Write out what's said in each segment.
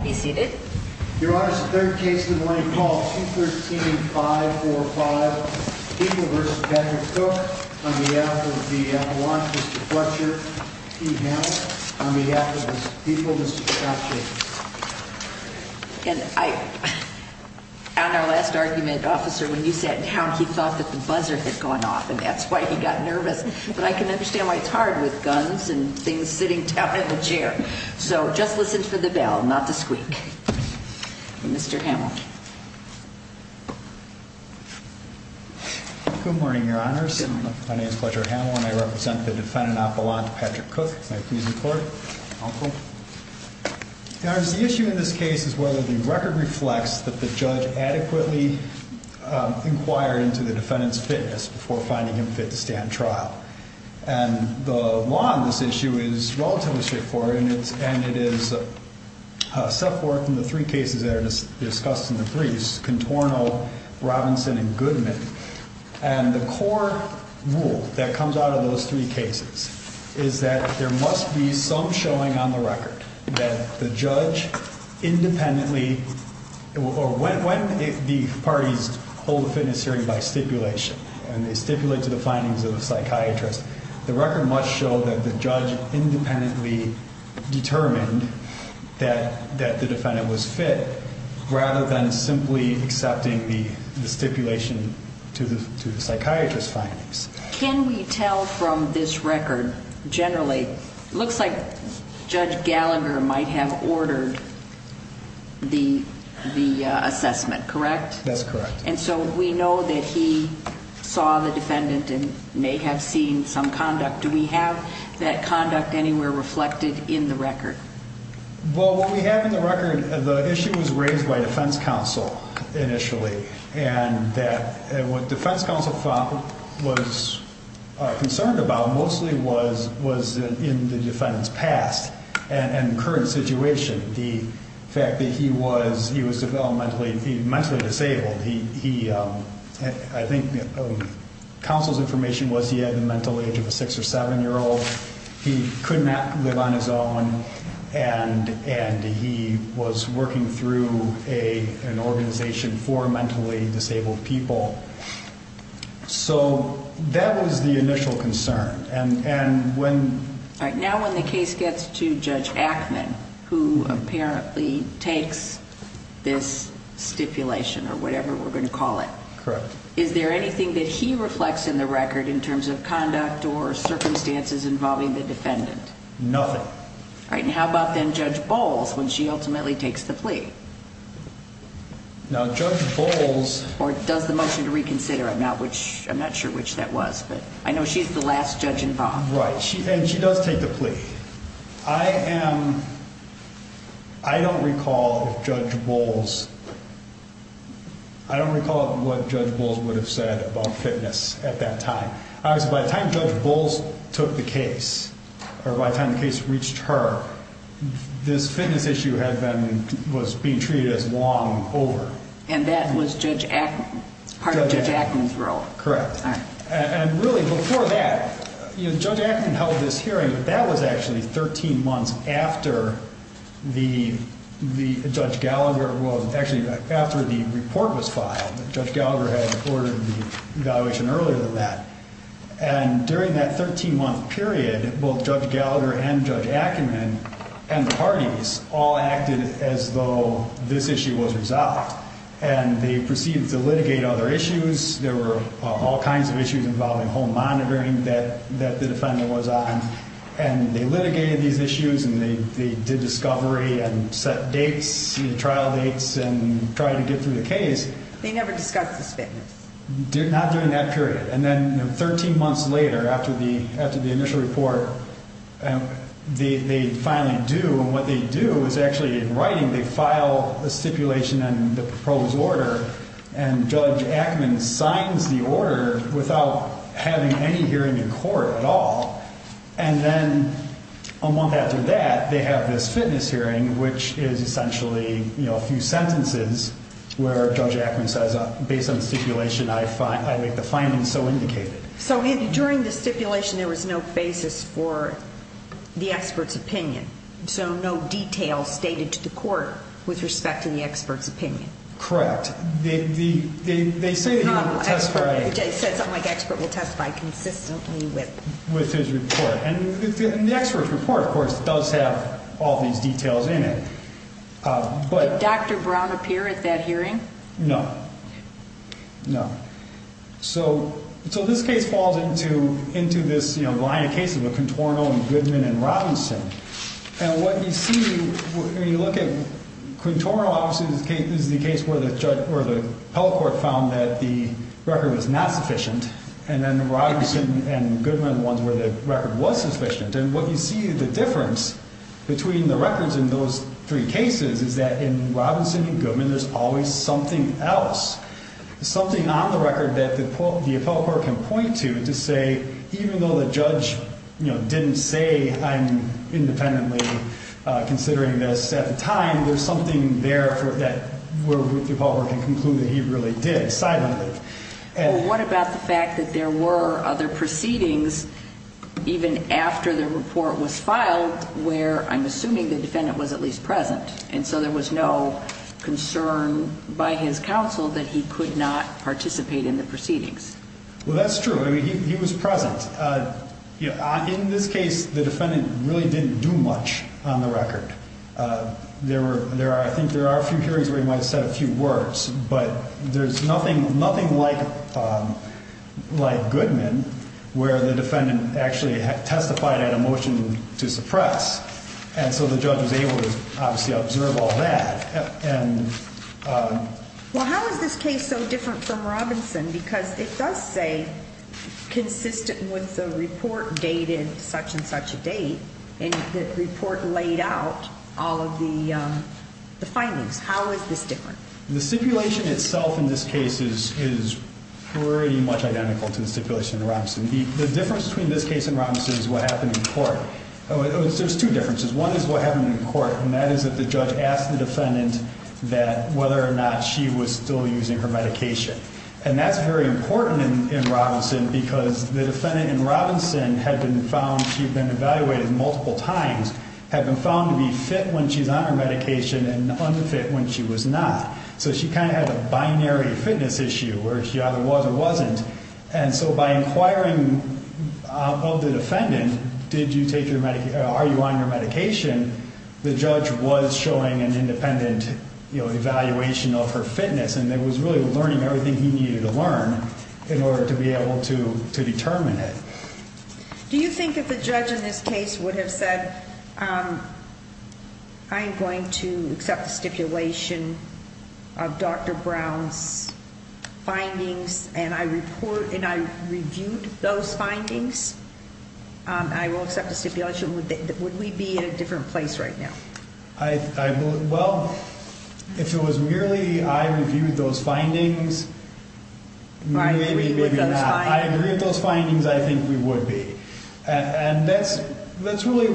Be seated. Your Honor, it's the third case of the morning. Call 213-545 People v. Patrick Cook. On behalf of the Appalachians, Mr. Fletcher, T. Hammond. On behalf of the people, Mr. Scott Jacobs. And I, on our last argument, officer, when you sat down, he thought that the buzzer had gone off and that's why he got nervous. But I can understand why it's hard with guns and things sitting down in the chair. So just listen for the bell, not the squeak. Mr. Hammond. Good morning, Your Honors. My name is Fletcher Hammond. I represent the defendant, Appalachian Patrick Cook. Can I please record? The issue in this case is whether the record reflects that the judge adequately inquired into the defendant's fitness before finding him fit to stand trial. And the law on this issue is relatively straightforward, and it is set forth in the three cases that are discussed in the threes, Contorno, Robinson, and Goodman. And the core rule that comes out of those three cases is that there must be some showing on the record that the judge independently, or when the parties hold a fitness hearing by stipulation and they stipulate to the findings of a psychiatrist, the record must show that the judge independently determined that the defendant was fit rather than simply accepting the stipulation. And so we know that he saw the defendant and may have seen some conduct. Do we have that conduct anywhere reflected in the record? Well, what we have in the record, the issue was raised by defense counsel initially, and that what defense counsel was concerned about mostly was in the defendant's past and current situation. The fact that he was mentally disabled. I think counsel's information was he had the mental age of a six or seven-year-old. He could not live on his own, and he was working through an organization for mentally disabled people. So that was the initial concern. All right. Now, when the case gets to Judge Ackman, who apparently takes this stipulation or whatever we're going to call it. Correct. Is there anything that he reflects in the record in terms of conduct or circumstances involving the defendant? Nothing. All right. And how about then Judge Bowles when she ultimately takes the plea? Now, Judge Bowles... Or does the motion to reconsider. I'm not sure which that was, but I know she's the last judge involved. Right. And she does take the plea. I don't recall if Judge Bowles... I don't recall what Judge Bowles would have said about fitness at that time. Obviously, by the time Judge Bowles took the case, or by the time the case reached her, this fitness issue was being treated as long over. And that was Judge Ackman, part of Judge Ackman's role. Correct. All right. And really, before that, Judge Ackman held this hearing. That was actually 13 months after the Judge Gallagher... Well, actually, after the report was filed. Judge Gallagher had ordered the evaluation earlier than that. And during that 13-month period, both Judge Gallagher and Judge Ackman and the parties all acted as though this issue was resolved. And they proceeded to litigate other issues. There were all kinds of issues involving home monitoring that the defendant was on. And they litigated these issues, and they did discovery and set dates, trial dates, and tried to get through the case. They never discussed this fitness. Not during that period. And then 13 months later, after the initial report, they finally do. And what they do is actually, in writing, they file a stipulation and the proposed order, and Judge Ackman signs the order without having any hearing in court at all. And then a month after that, they have this fitness hearing, which is essentially a few sentences where Judge Ackman says, based on the stipulation, I make the findings so indicated. So during the stipulation, there was no basis for the expert's opinion? So no details stated to the court with respect to the expert's opinion? Correct. They say that you will testify. They said something like expert will testify consistently with? With his report. And the expert's report, of course, does have all these details in it. Did Dr. Brown appear at that hearing? No. No. So this case falls into this line of cases with Quintorino and Goodman and Robinson. And what you see when you look at Quintorino, obviously this is the case where the judge or the appellate court found that the record was not sufficient. And then Robinson and Goodman were the ones where the record was sufficient. And what you see is the difference between the records in those three cases is that in Robinson and Goodman, there's always something else, something on the record that the appellate court can point to to say, even though the judge didn't say I'm independently considering this at the time, there's something there that the appellate court can conclude that he really did side on it. What about the fact that there were other proceedings even after the report was filed where I'm assuming the defendant was at least present? And so there was no concern by his counsel that he could not participate in the proceedings. Well, that's true. He was present. In this case, the defendant really didn't do much on the record. I think there are a few hearings where he might have said a few words, but there's nothing like Goodman where the defendant actually testified at a motion to suppress. And so the judge was able to obviously observe all that. Well, how is this case so different from Robinson? Because it does say consistent with the report dated such and such a date, and the report laid out all of the findings. How is this different? The stipulation itself in this case is pretty much identical to the stipulation in Robinson. The difference between this case and Robinson is what happened in court. There's two differences. One is what happened in court, and that is that the judge asked the defendant whether or not she was still using her medication. And that's very important in Robinson because the defendant in Robinson had been found, she'd been evaluated multiple times, had been found to be fit when she's on her medication and unfit when she was not. So she kind of had a binary fitness issue where she either was or wasn't. And so by inquiring of the defendant, are you on your medication, the judge was showing an independent evaluation of her fitness. And it was really learning everything he needed to learn in order to be able to determine it. Do you think if the judge in this case would have said, I am going to accept the stipulation of Dr. Brown's findings and I reviewed those findings, I will accept the stipulation, would we be in a different place right now? Well, if it was merely I reviewed those findings, maybe, maybe not. I agree with those findings, I think we would be. And that's really,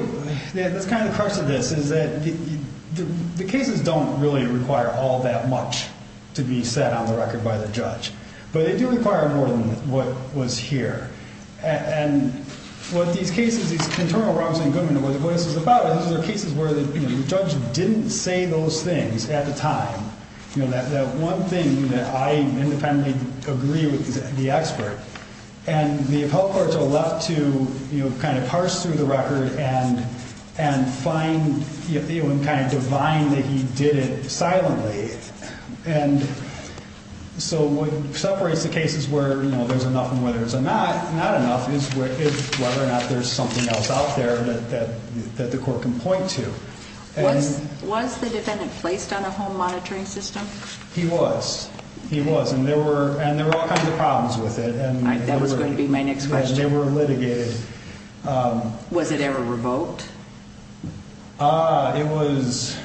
that's kind of the crux of this is that the cases don't really require all that much to be set on the record by the judge. But they do require more than what was here. And what these cases, these internal problems in government, what this is about, these are cases where the judge didn't say those things at the time. You know, that one thing that I independently agree with the expert. And the appellate courts are left to, you know, kind of parse through the record and find, you know, and kind of divine that he did it silently. And so what separates the cases where there's enough and where there's not enough is whether or not there's something else out there that the court can point to. Was the defendant placed on a home monitoring system? He was, he was. And there were all kinds of problems with it. That was going to be my next question. They were litigated. Was it ever revoked? It was.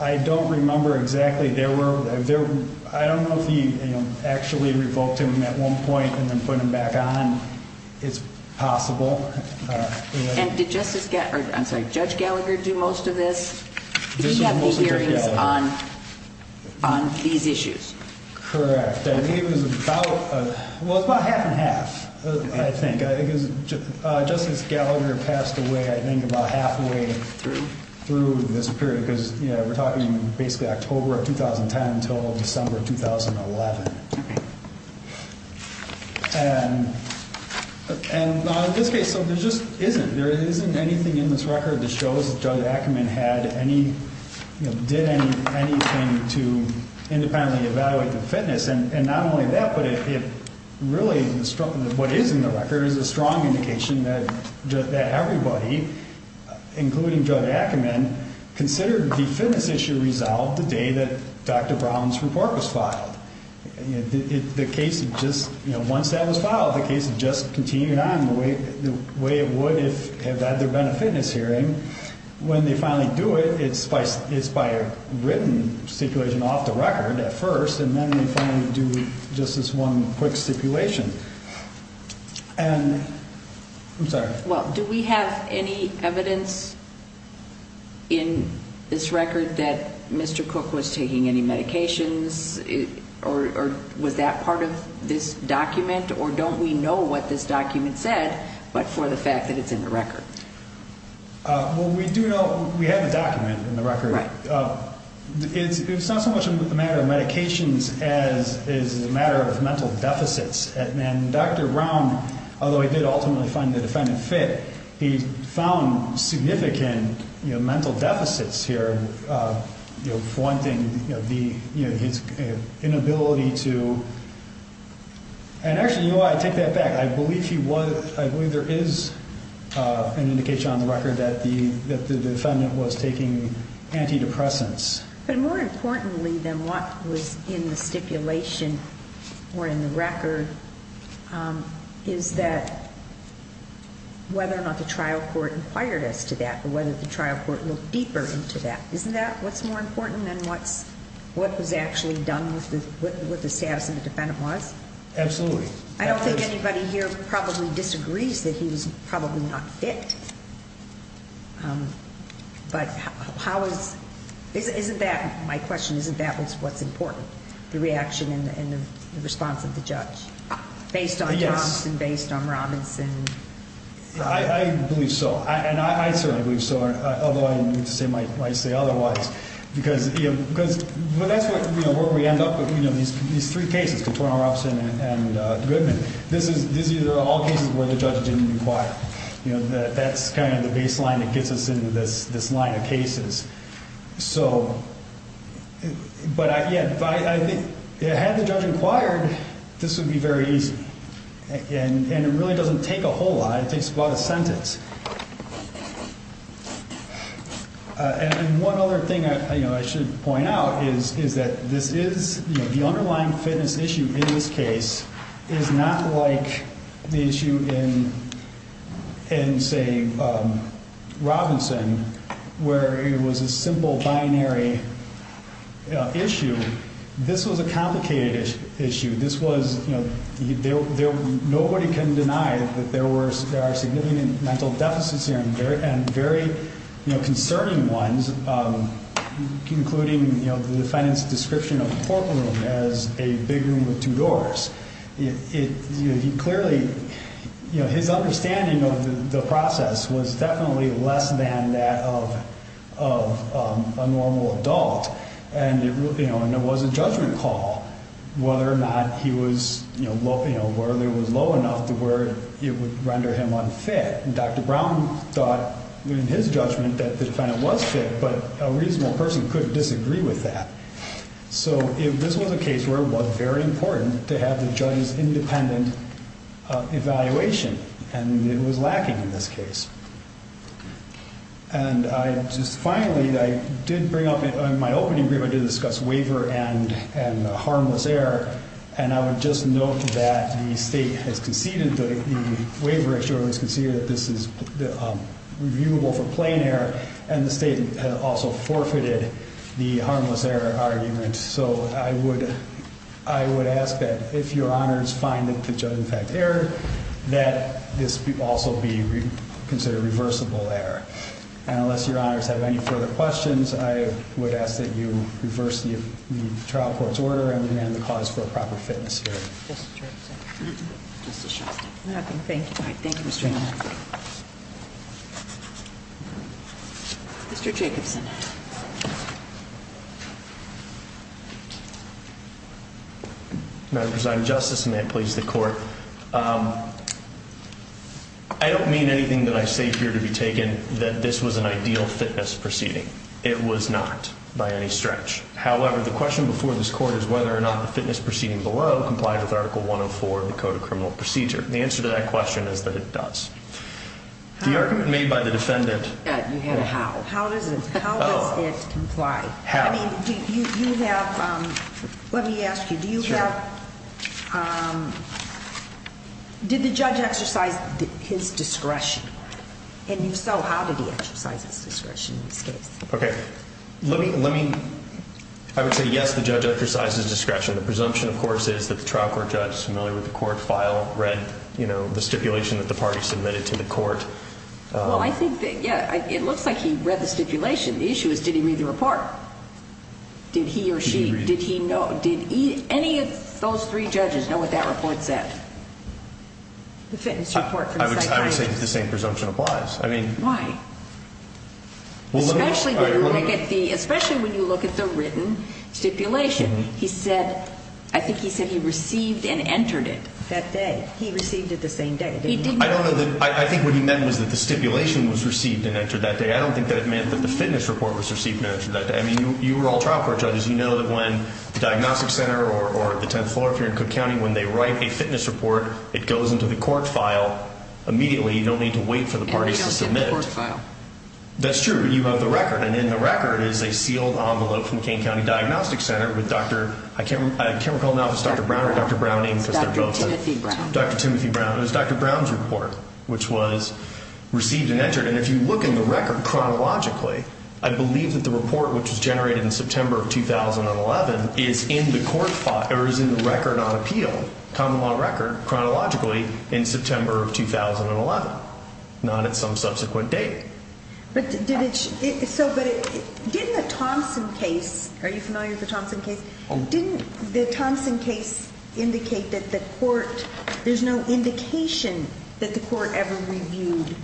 I don't remember exactly. There were there. I don't know if he actually revoked him at one point and then put him back on. It's possible. And did Justice get. I'm sorry. Judge Gallagher do most of this. We have the hearings on on these issues. Correct. It was about. Well, it's about half and half. I think it was just as Gallagher passed away, I think, about halfway through through this period, because we're talking basically October 2010 until December 2011. And in this case, so there just isn't there isn't anything in this record that shows that judge Ackerman had any did anything to independently evaluate the fitness. And not only that, but it really is what is in the record is a strong indication that everybody, including judge Ackerman, considered the fitness issue resolved the day that Dr. Brown's report was filed. The case just once that was filed, the case just continued on the way the way it would if had there been a fitness hearing when they finally do it. It's by it's by a written stipulation off the record at first. And then we finally do just this one quick stipulation. And I'm sorry. Well, do we have any evidence in this record that Mr. Cook was taking any medications or was that part of this document? Or don't we know what this document said, but for the fact that it's in the record. Well, we do know we have a document in the record. It's not so much a matter of medications as is a matter of mental deficits. And Dr. Brown, although he did ultimately find the defendant fit, he found significant mental deficits here. For one thing, the inability to. And actually, I take that back. I believe he was. I believe there is an indication on the record that the defendant was taking antidepressants. But more importantly than what was in the stipulation or in the record, is that. Whether or not the trial court inquired us to that or whether the trial court looked deeper into that. Isn't that what's more important than what's what was actually done with the with the status of the defendant was absolutely. I don't think anybody here probably disagrees that he was probably not fit. But how is this? Isn't that my question? Isn't that what's important? The reaction and the response of the judge based on this and based on Robinson? I believe so. And I certainly believe so. Although I say otherwise, because because that's what we end up with. You know, these these three cases before our office and this is these are all cases where the judge didn't require that. That's kind of the baseline that gets us into this. This line of cases. So. But yeah, I had the judge inquired. This would be very easy. And it really doesn't take a whole lot. It takes about a sentence. And one other thing I should point out is, is that this is the underlying fitness issue. In this case, it is not like the issue in and say, Robinson, where it was a simple binary issue. This was a complicated issue. This was, you know, nobody can deny that there were there are significant mental deficits here and very, very concerning ones, including, you know, the defendant's description of the courtroom as a big room with two doors. It clearly, you know, his understanding of the process was definitely less than that of of a normal adult. And, you know, and there was a judgment call whether or not he was, you know, low, you know, where there was low enough to where it would render him unfit. And Dr. Brown thought in his judgment that the defendant was fit, but a reasonable person could disagree with that. So this was a case where it was very important to have the judge's independent evaluation. And it was lacking in this case. And I just finally I did bring up in my opening agreement to discuss waiver and and harmless error. And I would just note that the state has conceded that the waiver actually was conceded that this is reviewable for plain error. And the state also forfeited the harmless error argument. So I would I would ask that if your honors find that the judge in fact error, that this also be considered reversible error. And unless your honors have any further questions, I would ask that you reverse the trial court's order and demand the cause for a proper fitness hearing. Thank you. Thank you, Mr. Jacobson. Madam President, Justice, and may it please the court. I don't mean anything that I say here to be taken that this was an ideal fitness proceeding. It was not by any stretch. However, the question before this court is whether or not the fitness proceeding below complied with Article 104 of the Code of Criminal Procedure. The answer to that question is that it does. The argument made by the defendant. You have a how. How does it comply? How? I mean, do you have, let me ask you, do you have, did the judge exercise his discretion? And if so, how did he exercise his discretion in this case? Okay. Let me, let me, I would say yes, the judge exercised his discretion. The presumption, of course, is that the trial court judge is familiar with the court file, read, you know, the stipulation that the party submitted to the court. Well, I think that, yeah, it looks like he read the stipulation. The issue is, did he read the report? Did he or she, did he know, did any of those three judges know what that report said? The fitness report. I would say that the same presumption applies. I mean. Why? Especially when you look at the, especially when you look at the written stipulation. He said, I think he said he received and entered it that day. He received it the same day. I don't know that, I think what he meant was that the stipulation was received and entered that day. I don't think that it meant that the fitness report was received and entered that day. I mean, you were all trial court judges. You know that when the diagnostic center or the 10th floor, if you're in Cook County, when they write a fitness report, it goes into the court file immediately. You don't need to wait for the parties to submit it. And it goes in the court file. That's true. You have the record. And in the record is a sealed envelope from Kane County Diagnostic Center with Dr., I can't, I can't recall now if it's Dr. Brown or Dr. Browning. Dr. Timothy Brown. Dr. Timothy Brown. It was Dr. Brown's report, which was received and entered. And if you look in the record chronologically, I believe that the report, which was generated in September of 2011, is in the court file, or is in the record on appeal, common law record, chronologically in September of 2011. Not at some subsequent date. But did it, so, but didn't the Thompson case, are you familiar with the Thompson case? Didn't the Thompson case indicate that the court, there's no indication that the court ever reviewed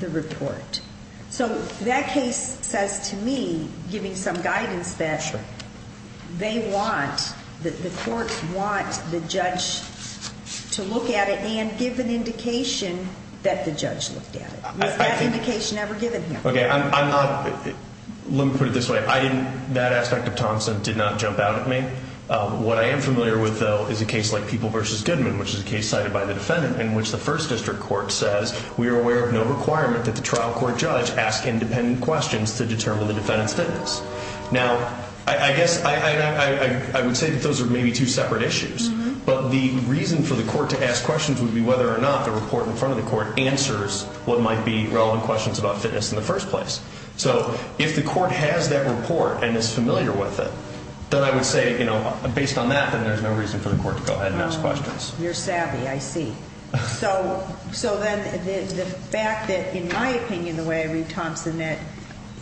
the report? So that case says to me, giving some guidance, that they want, that the court want the judge to look at it and give an indication that the judge looked at it. Was that indication ever given here? Okay, I'm not, let me put it this way. I didn't, that aspect of Thompson did not jump out at me. What I am familiar with, though, is a case like People v. Goodman, which is a case cited by the defendant, in which the first district court says we are aware of no requirement that the trial court judge ask independent questions to determine the defendant's fitness. Now, I guess, I would say that those are maybe two separate issues. But the reason for the court to ask questions would be whether or not the report in front of the court answers what might be relevant questions about fitness in the first place. So, if the court has that report and is familiar with it, then I would say, you know, based on that, then there's no reason for the court to go ahead and ask questions. You're savvy, I see. So, then, the fact that, in my opinion, the way I read Thompson, that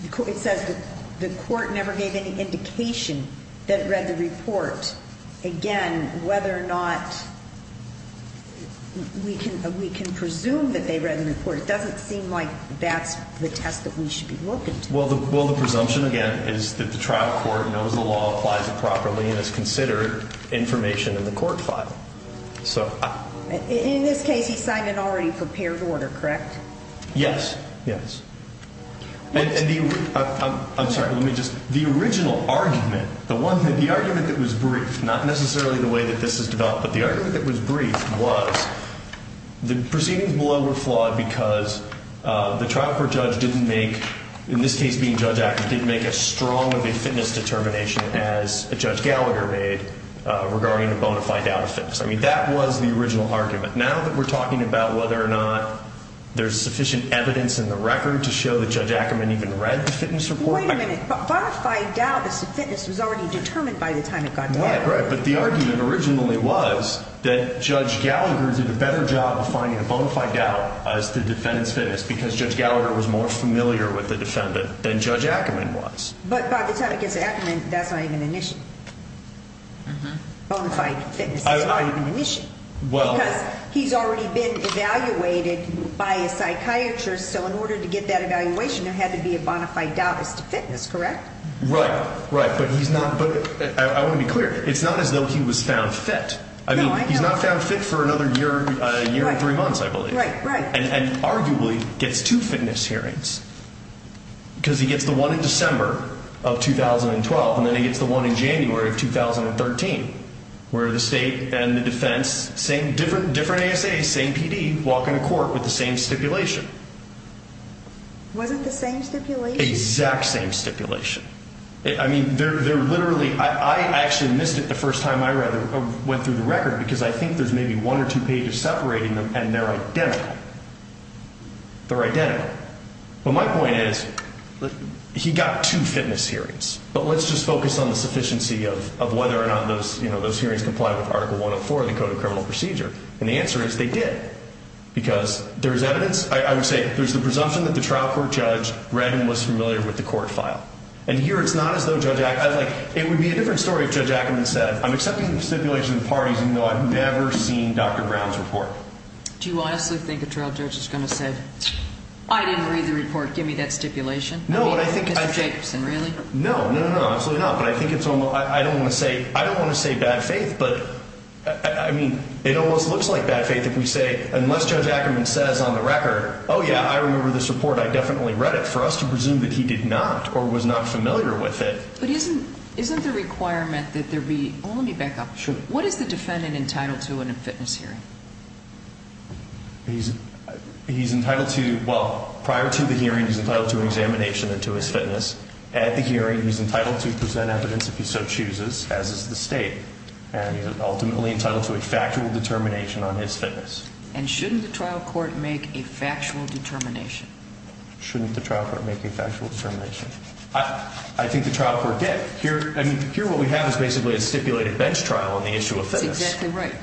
it says the court never gave any indication that it read the report. Again, whether or not we can presume that they read the report. It doesn't seem like that's the test that we should be looking to. Well, the presumption, again, is that the trial court knows the law, applies it properly, and has considered information in the court file. In this case, he signed an already prepared order, correct? Yes. Yes. I'm sorry. Let me just. The original argument, the argument that was brief, not necessarily the way that this is developed, but the argument that was brief was the proceedings below were flawed because the trial court judge didn't make, in this case, being judge active, make as strong of a fitness determination as Judge Gallagher made regarding the bonafide doubt of fitness. I mean, that was the original argument. Now that we're talking about whether or not there's sufficient evidence in the record to show that Judge Ackerman even read the fitness report. Wait a minute. Bonafide doubt as to fitness was already determined by the time it got there. But the argument originally was that Judge Gallagher did a better job of finding a bonafide doubt as to defendant's fitness because Judge Gallagher was more familiar with the defendant than Judge Ackerman was. But by the time it gets to Ackerman, that's not even an issue. Bonafide fitness is not even an issue. Well. Because he's already been evaluated by a psychiatrist, so in order to get that evaluation, there had to be a bonafide doubt as to fitness, correct? Right. Right. I want to be clear. It's not as though he was found fit. I mean, he's not found fit for another year or three months, I believe. Right, right. And arguably gets two fitness hearings because he gets the one in December of 2012 and then he gets the one in January of 2013 where the state and the defense, different ASAs, same PD, walk into court with the same stipulation. Was it the same stipulation? Exact same stipulation. I mean, they're literally, I actually missed it the first time I went through the record because I think there's maybe one or two pages separating them and they're identical. They're identical. But my point is, he got two fitness hearings. But let's just focus on the sufficiency of whether or not those hearings comply with Article 104 of the Code of Criminal Procedure. And the answer is they did. Because there's evidence, I would say, there's the presumption that the trial court judge read and was familiar with the court file. And here it's not as though Judge Ackerman, like, it would be a different story if Judge Ackerman said, I'm accepting the stipulation of the parties even though I've never seen Dr. Brown's report. Do you honestly think a trial judge is going to say, I didn't read the report, give me that stipulation? No, and I think I. I mean, Mr. Jacobson, really? No, no, no, absolutely not. But I think it's almost, I don't want to say, I don't want to say bad faith, but I mean, it almost looks like bad faith if we say, unless Judge Ackerman says on the record, oh, yeah, I remember this report, I definitely read it. But for us to presume that he did not or was not familiar with it. But isn't the requirement that there be, oh, let me back up. Sure. What is the defendant entitled to in a fitness hearing? He's entitled to, well, prior to the hearing, he's entitled to examination and to his fitness. At the hearing, he's entitled to present evidence if he so chooses, as is the state. And he's ultimately entitled to a factual determination on his fitness. And shouldn't the trial court make a factual determination? Shouldn't the trial court make a factual determination? I think the trial court did. I mean, here what we have is basically a stipulated bench trial on the issue of fitness. That's exactly right.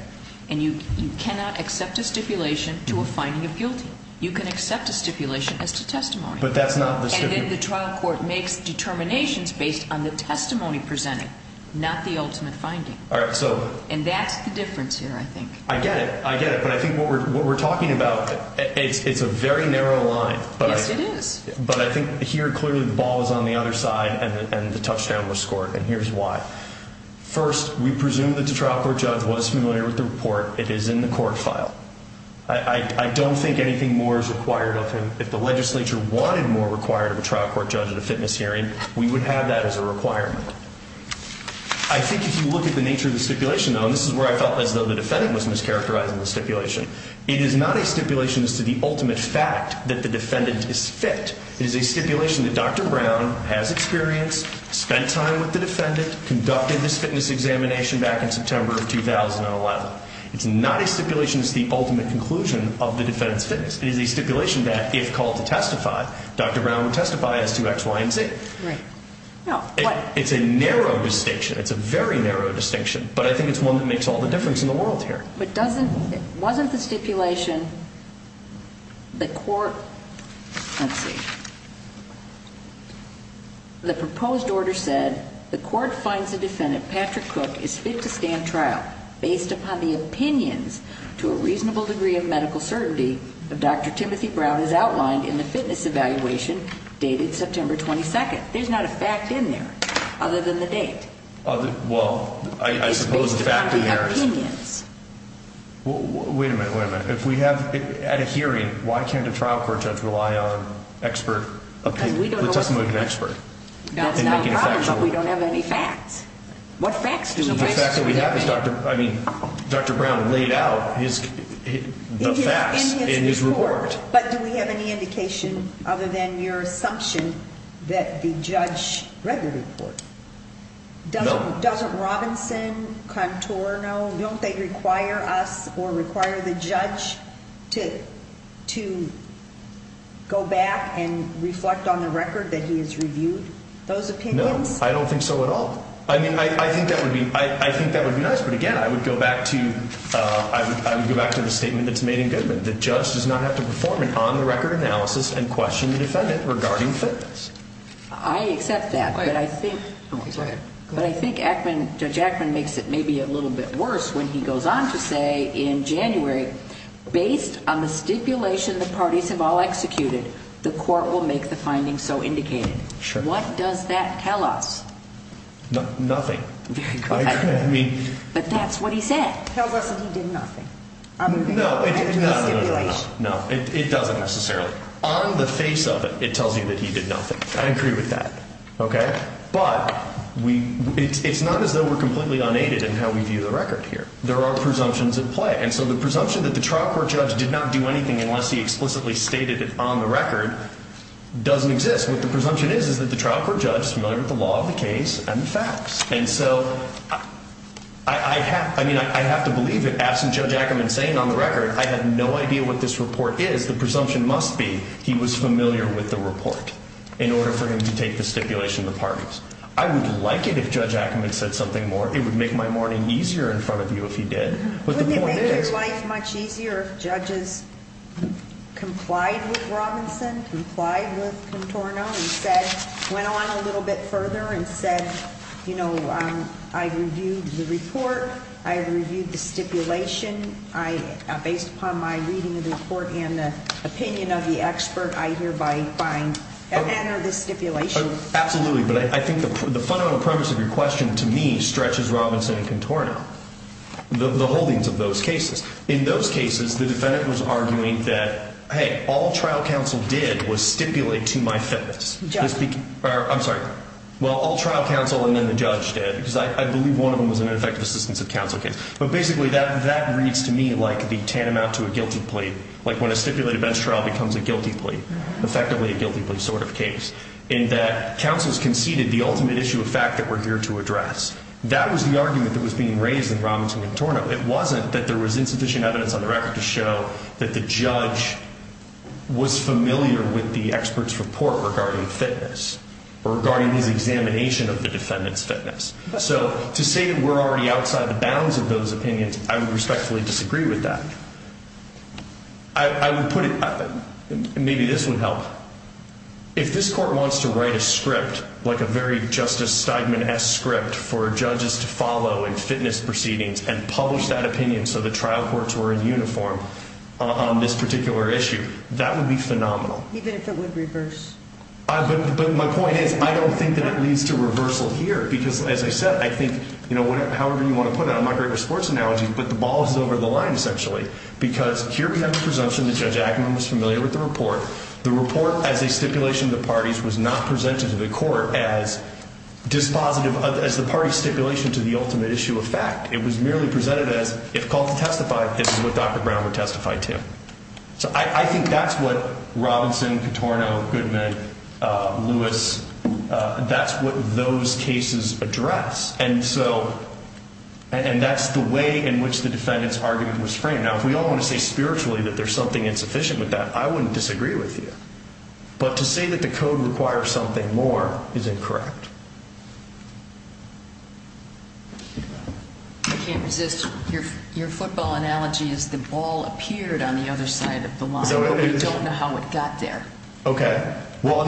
And you cannot accept a stipulation to a finding of guilty. You can accept a stipulation as to testimony. But that's not the stipulation. And then the trial court makes determinations based on the testimony presented, not the ultimate finding. All right, so. And that's the difference here, I think. I get it. I get it. And I think what we're talking about, it's a very narrow line. Yes, it is. But I think here clearly the ball is on the other side and the touchdown was scored. And here's why. First, we presume that the trial court judge was familiar with the report. It is in the court file. I don't think anything more is required of him. If the legislature wanted more required of a trial court judge at a fitness hearing, we would have that as a requirement. I think if you look at the nature of the stipulation, though, this is where I felt as though the defendant was mischaracterizing the stipulation, it is not a stipulation as to the ultimate fact that the defendant is fit. It is a stipulation that Dr. Brown has experienced, spent time with the defendant, conducted this fitness examination back in September of 2011. It's not a stipulation as to the ultimate conclusion of the defendant's fitness. It is a stipulation that if called to testify, Dr. Brown would testify as to X, Y, and Z. Right. Now, what? It's a narrow distinction. It's a very narrow distinction. But I think it's one that makes all the difference in the world here. But doesn't, wasn't the stipulation the court, let's see, the proposed order said the court finds the defendant, Patrick Cook, is fit to stand trial based upon the opinions to a reasonable degree of medical certainty that Dr. Timothy Brown has outlined in the fitness evaluation dated September 22nd. There's not a fact in there other than the date. Well, I suppose the fact in there is. It's based upon the opinions. Wait a minute, wait a minute. If we have, at a hearing, why can't a trial court judge rely on expert opinion? Because we don't know what's in there. Let us make an expert. That's not a problem, but we don't have any facts. What facts do we have? The fact that we have is Dr., I mean, Dr. Brown laid out his, the facts in his report. In his report. No. Doesn't Robinson, Contour know? Don't they require us or require the judge to go back and reflect on the record that he has reviewed those opinions? No, I don't think so at all. I mean, I think that would be nice, but again, I would go back to the statement that's made in Goodman. The judge does not have to perform an on-the-record analysis and question the defendant regarding fitness. I accept that, but I think, but I think Ackman, Judge Ackman makes it maybe a little bit worse when he goes on to say in January, based on the stipulation the parties have all executed, the court will make the findings so indicated. Sure. What does that tell us? Nothing. Very good. I mean. But that's what he said. Tells us that he did nothing. No, no, no, no, no, no. It doesn't necessarily. On the face of it, it tells you that he did nothing. I agree with that. Okay. But we, it's not as though we're completely unaided in how we view the record here. There are presumptions at play. And so the presumption that the trial court judge did not do anything unless he explicitly stated it on the record doesn't exist. What the presumption is is that the trial court judge is familiar with the law of the case and the facts. And so I have, I mean, I have to believe it. Absent Judge Ackman saying on the record, I have no idea what this report is, the presumption must be he was familiar with the report. In order for him to take the stipulation of the parties. I would like it if Judge Ackman said something more. It would make my morning easier in front of you if he did. But the point is. Wouldn't it make his life much easier if judges complied with Robinson, complied with Contorno and said, went on a little bit further and said, you know, I reviewed the report. I reviewed the stipulation. Based upon my reading of the report and the opinion of the expert, I hereby find that manner of the stipulation. Absolutely. But I think the fundamental premise of your question to me stretches Robinson and Contorno. The holdings of those cases. In those cases, the defendant was arguing that, hey, all trial counsel did was stipulate to my fitness. I'm sorry. Well, all trial counsel and then the judge did. Because I believe one of them was an ineffective assistance of counsel case. But basically, that reads to me like the tantamount to a guilty plea. Like when a stipulated bench trial becomes a guilty plea. Effectively a guilty plea sort of case. In that counsels conceded the ultimate issue of fact that we're here to address. That was the argument that was being raised in Robinson and Contorno. It wasn't that there was insufficient evidence on the record to show that the judge was familiar with the expert's report regarding fitness. Or regarding his examination of the defendant's fitness. So to say that we're already outside the bounds of those opinions, I would respectfully disagree with that. I would put it, maybe this would help. If this court wants to write a script, like a very Justice Steigman-esque script for judges to follow in fitness proceedings and publish that opinion so the trial courts were in uniform on this particular issue, that would be phenomenal. Even if it would reverse. But my point is, I don't think that it leads to reversal here. Because as I said, I think, however you want to put it, I'm not great with sports analogies, but the ball is over the line essentially. Because here we have the presumption that Judge Agnew was familiar with the report. The report as a stipulation of the parties was not presented to the court as dispositive, as the parties stipulation to the ultimate issue of fact. It was merely presented as, if called to testify, this is what Dr. Brown would testify to. So I think that's what Robinson, Catorno, Goodman, Lewis, that's what those cases address. And so, and that's the way in which the defendant's argument was framed. Now, if we all want to say spiritually that there's something insufficient with that, I wouldn't disagree with you. But to say that the code requires something more is incorrect. I can't resist. Your football analogy is the ball appeared on the other side of the line, but we don't know how it got there. Okay. Well,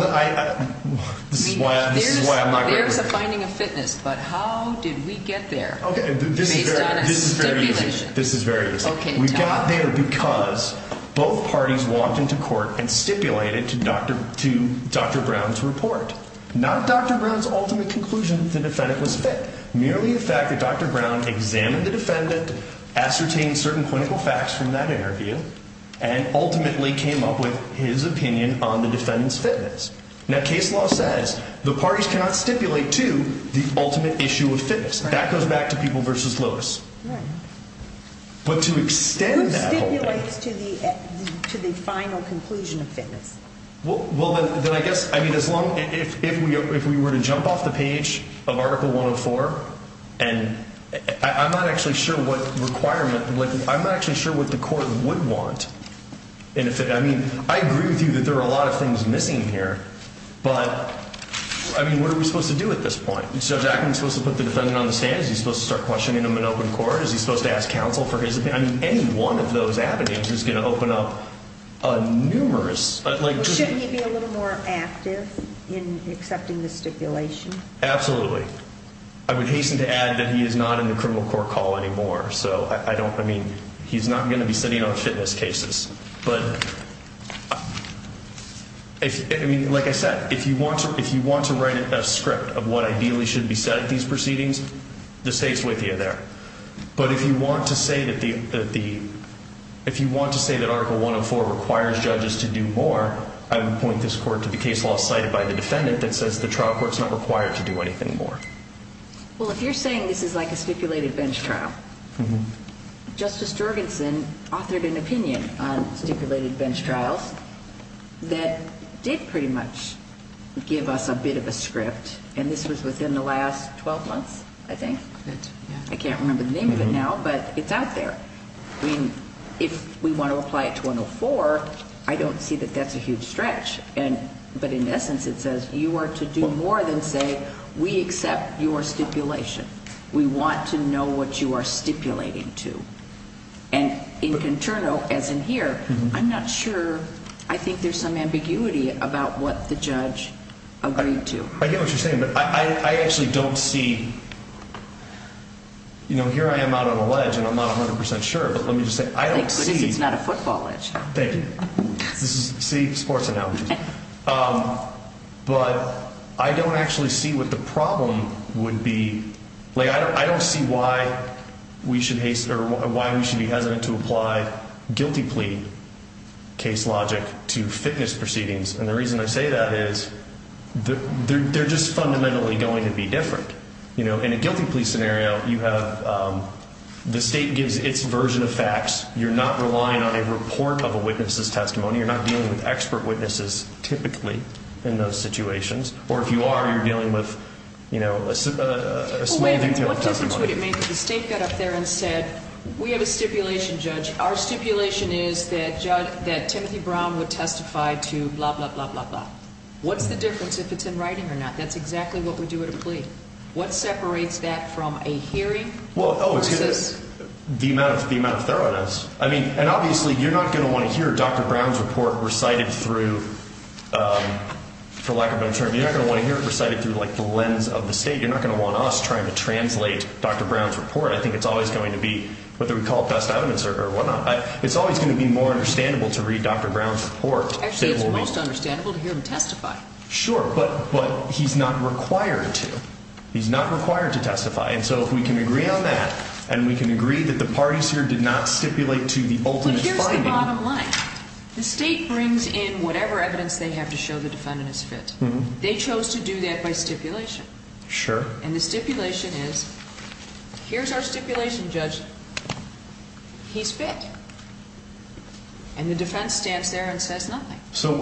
this is why I'm not great with it. There's a finding of fitness, but how did we get there based on a stipulation? Okay. This is very easy. This is very easy. We got there because both parties walked into court and stipulated to Dr. Brown's report. Not Dr. Brown's ultimate conclusion that the defendant was fit. Merely the fact that Dr. Brown examined the defendant, ascertained certain clinical facts from that interview, and ultimately came up with his opinion on the defendant's fitness. Now, case law says the parties cannot stipulate to the ultimate issue of fitness. That goes back to People v. Lewis. Right. But to extend that whole thing. Who stipulates to the final conclusion of fitness? Well, then I guess, I mean, as long, if we were to jump off the page of Article 104, and I'm not actually sure what requirement, I'm not actually sure what the court would want. I mean, I agree with you that there are a lot of things missing here. But, I mean, what are we supposed to do at this point? Is Judge Ackman supposed to put the defendant on the stand? Is he supposed to start questioning him in open court? Is he supposed to ask counsel for his opinion? I mean, any one of those avenues is going to open up a numerous. Well, shouldn't he be a little more active in accepting the stipulation? Absolutely. I would hasten to add that he is not in the criminal court call anymore. So, I don't, I mean, he's not going to be sitting on fitness cases. But, I mean, like I said, if you want to write a script of what ideally should be said at these proceedings, this takes with you there. But if you want to say that the, if you want to say that Article 104 requires judges to do more, I would point this court to the case law cited by the defendant that says the trial court's not required to do anything more. Well, if you're saying this is like a stipulated bench trial, Justice Jorgensen authored an opinion on stipulated bench trials that did pretty much give us a bit of a script, and this was within the last 12 months, I think. I can't remember the name of it now, but it's out there. I mean, if we want to apply it to 104, I don't see that that's a huge stretch. But in essence, it says you are to do more than say we accept your stipulation. We want to know what you are stipulating to. And in Conterno, as in here, I'm not sure. I think there's some ambiguity about what the judge agreed to. I get what you're saying, but I actually don't see, you know, here I am out on a ledge, and I'm not 100% sure, but let me just say I don't see. Thank goodness it's not a football ledge. Thank you. This is a city sports analogy. But I don't actually see what the problem would be. Like, I don't see why we should be hesitant to apply guilty plea case logic to fitness proceedings. And the reason I say that is they're just fundamentally going to be different. You know, in a guilty plea scenario, you have the state gives its version of facts. You're not relying on a report of a witness's testimony. You're not dealing with expert witnesses, typically, in those situations. Or if you are, you're dealing with, you know, a smoothing of testimony. What difference would it make if the state got up there and said we have a stipulation, judge. Our stipulation is that Timothy Brown would testify to blah, blah, blah, blah, blah. What's the difference if it's in writing or not? That's exactly what we do at a plea. What separates that from a hearing versus. The amount of thoroughness. I mean, and obviously you're not going to want to hear Dr. Brown's report recited through, for lack of a better term, you're not going to want to hear it recited through, like, the lens of the state. You're not going to want us trying to translate Dr. Brown's report. I think it's always going to be, whether we call it best evidence or whatnot, it's always going to be more understandable to read Dr. Brown's report. Actually, it's most understandable to hear him testify. Sure, but he's not required to. He's not required to testify. And so if we can agree on that and we can agree that the parties here did not stipulate to the ultimate finding. But here's the bottom line. The state brings in whatever evidence they have to show the defendant is fit. They chose to do that by stipulation. Sure. And the stipulation is, here's our stipulation, Judge. He's fit. And the defense stands there and says nothing. So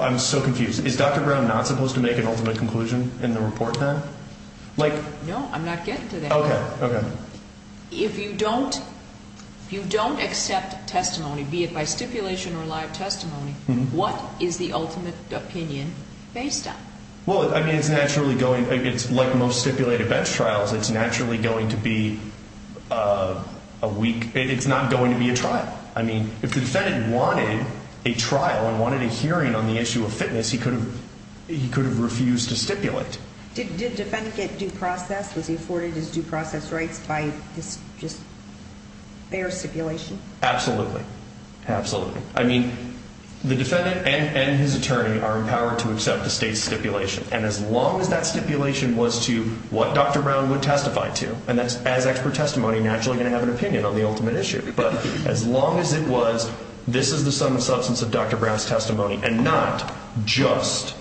I'm so confused. Is Dr. Brown not supposed to make an ultimate conclusion in the report then? No, I'm not getting to that. Okay, okay. If you don't accept testimony, be it by stipulation or live testimony, what is the ultimate opinion based on? Well, I mean, it's naturally going, it's like most stipulated bench trials, it's naturally going to be a weak, it's not going to be a trial. I mean, if the defendant wanted a trial and wanted a hearing on the issue of fitness, he could have refused to stipulate. Did the defendant get due process? Was he afforded his due process rights by his just bare stipulation? Absolutely, absolutely. I mean, the defendant and his attorney are empowered to accept the state's stipulation. And as long as that stipulation was to what Dr. Brown would testify to, and that's as expert testimony, naturally going to have an opinion on the ultimate issue. But as long as it was, this is the sum of substance of Dr. Brown's testimony and not just,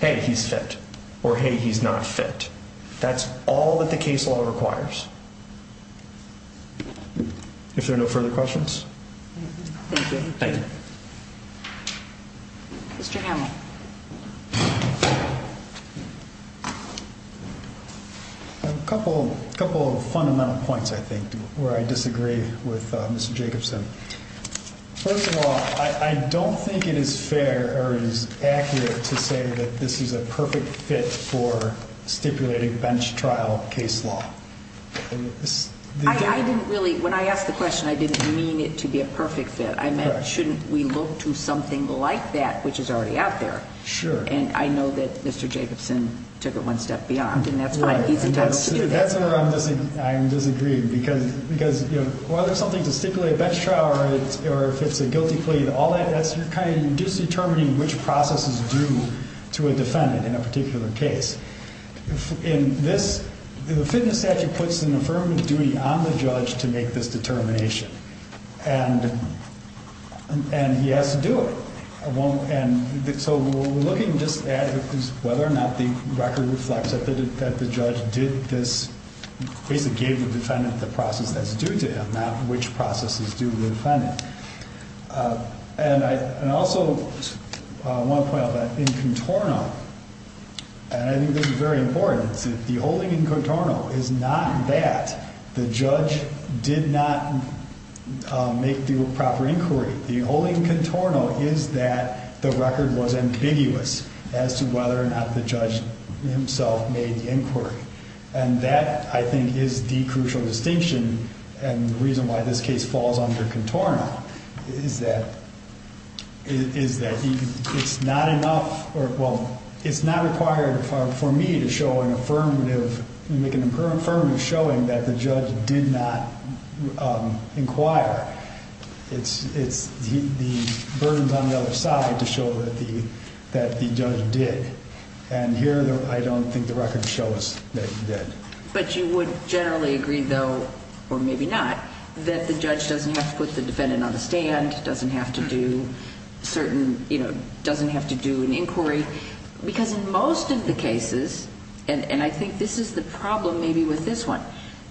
hey, he's fit or, hey, he's not fit. That's all that the case law requires. If there are no further questions. Thank you. Thank you. Mr. Hamill. A couple of fundamental points, I think, where I disagree with Mr. Jacobson. First of all, I don't think it is fair or it is accurate to say that this is a perfect fit for stipulating bench trial case law. I didn't really, when I asked the question, I didn't mean it to be a perfect fit. I meant, shouldn't we look to something like that, which is already out there? Sure. And I know that Mr. Jacobson took it one step beyond, and that's fine. He's entitled to do that. That's where I'm disagreeing. Because, you know, whether something's a stipulated bench trial or if it's a guilty plea and all that, that's kind of just determining which process is due to a defendant in a particular case. In this, the fitness statute puts an affirmative duty on the judge to make this determination. And he has to do it. So we're looking just at whether or not the record reflects that the judge did this, basically gave the defendant the process that's due to him, not which process is due to the defendant. And I also want to point out that in Contorno, and I think this is very important, the holding in Contorno is not that the judge did not make the proper inquiry. The holding in Contorno is that the record was ambiguous as to whether or not the judge himself made the inquiry. And that, I think, is the crucial distinction and the reason why this case falls under Contorno, is that it's not enough or, well, it's not required for me to show an affirmative, make an affirmative showing that the judge did not inquire. It's the burdens on the other side to show that the judge did. And here, I don't think the record shows that he did. But you would generally agree, though, or maybe not, that the judge doesn't have to put the defendant on the stand, doesn't have to do certain, you know, doesn't have to do an inquiry. Because in most of the cases, and I think this is the problem maybe with this one,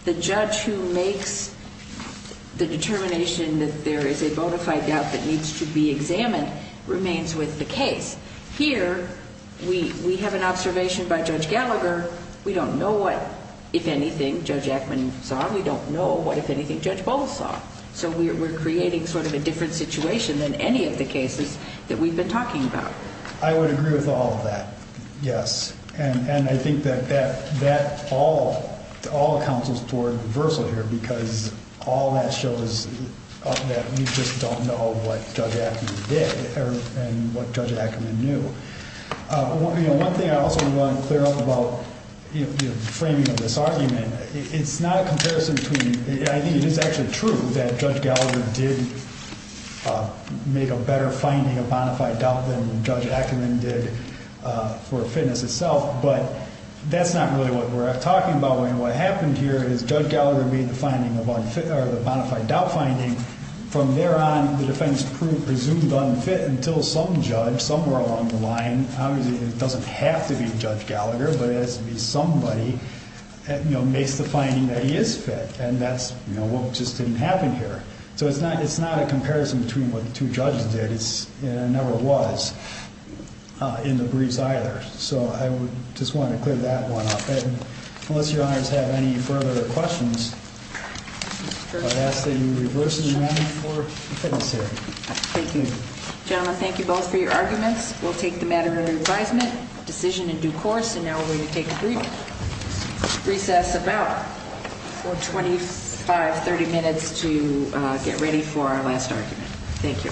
the judge who makes the determination that there is a bona fide doubt that needs to be examined remains with the case. Here, we have an observation by Judge Gallagher. We don't know what, if anything, Judge Ackman saw. We don't know what, if anything, Judge Bowles saw. So we're creating sort of a different situation than any of the cases that we've been talking about. I would agree with all of that, yes. And I think that that all accounts for reversal here, because all that shows that we just don't know what Judge Ackman did and what Judge Ackman knew. One thing I also want to clear up about the framing of this argument, it's not a comparison between, I think it is actually true that Judge Gallagher did make a better finding of bona fide doubt than Judge Ackman did for fitness itself. But that's not really what we're talking about. What happened here is Judge Gallagher made the bona fide doubt finding. From there on, the defense proved presumed unfit until some judge somewhere along the line, obviously it doesn't have to be Judge Gallagher, but it has to be somebody, makes the finding that he is fit. And that's what just didn't happen here. So it's not a comparison between what the two judges did. It never was in the briefs either. So I would just want to clear that one up. And unless your honors have any further questions, I would ask that you reverse the matter for the fitness area. Thank you. Gentlemen, thank you both for your arguments. We'll take the matter under advisement, decision in due course. And now we're going to take a brief recess, about 25, 30 minutes to get ready for our last argument. Thank you.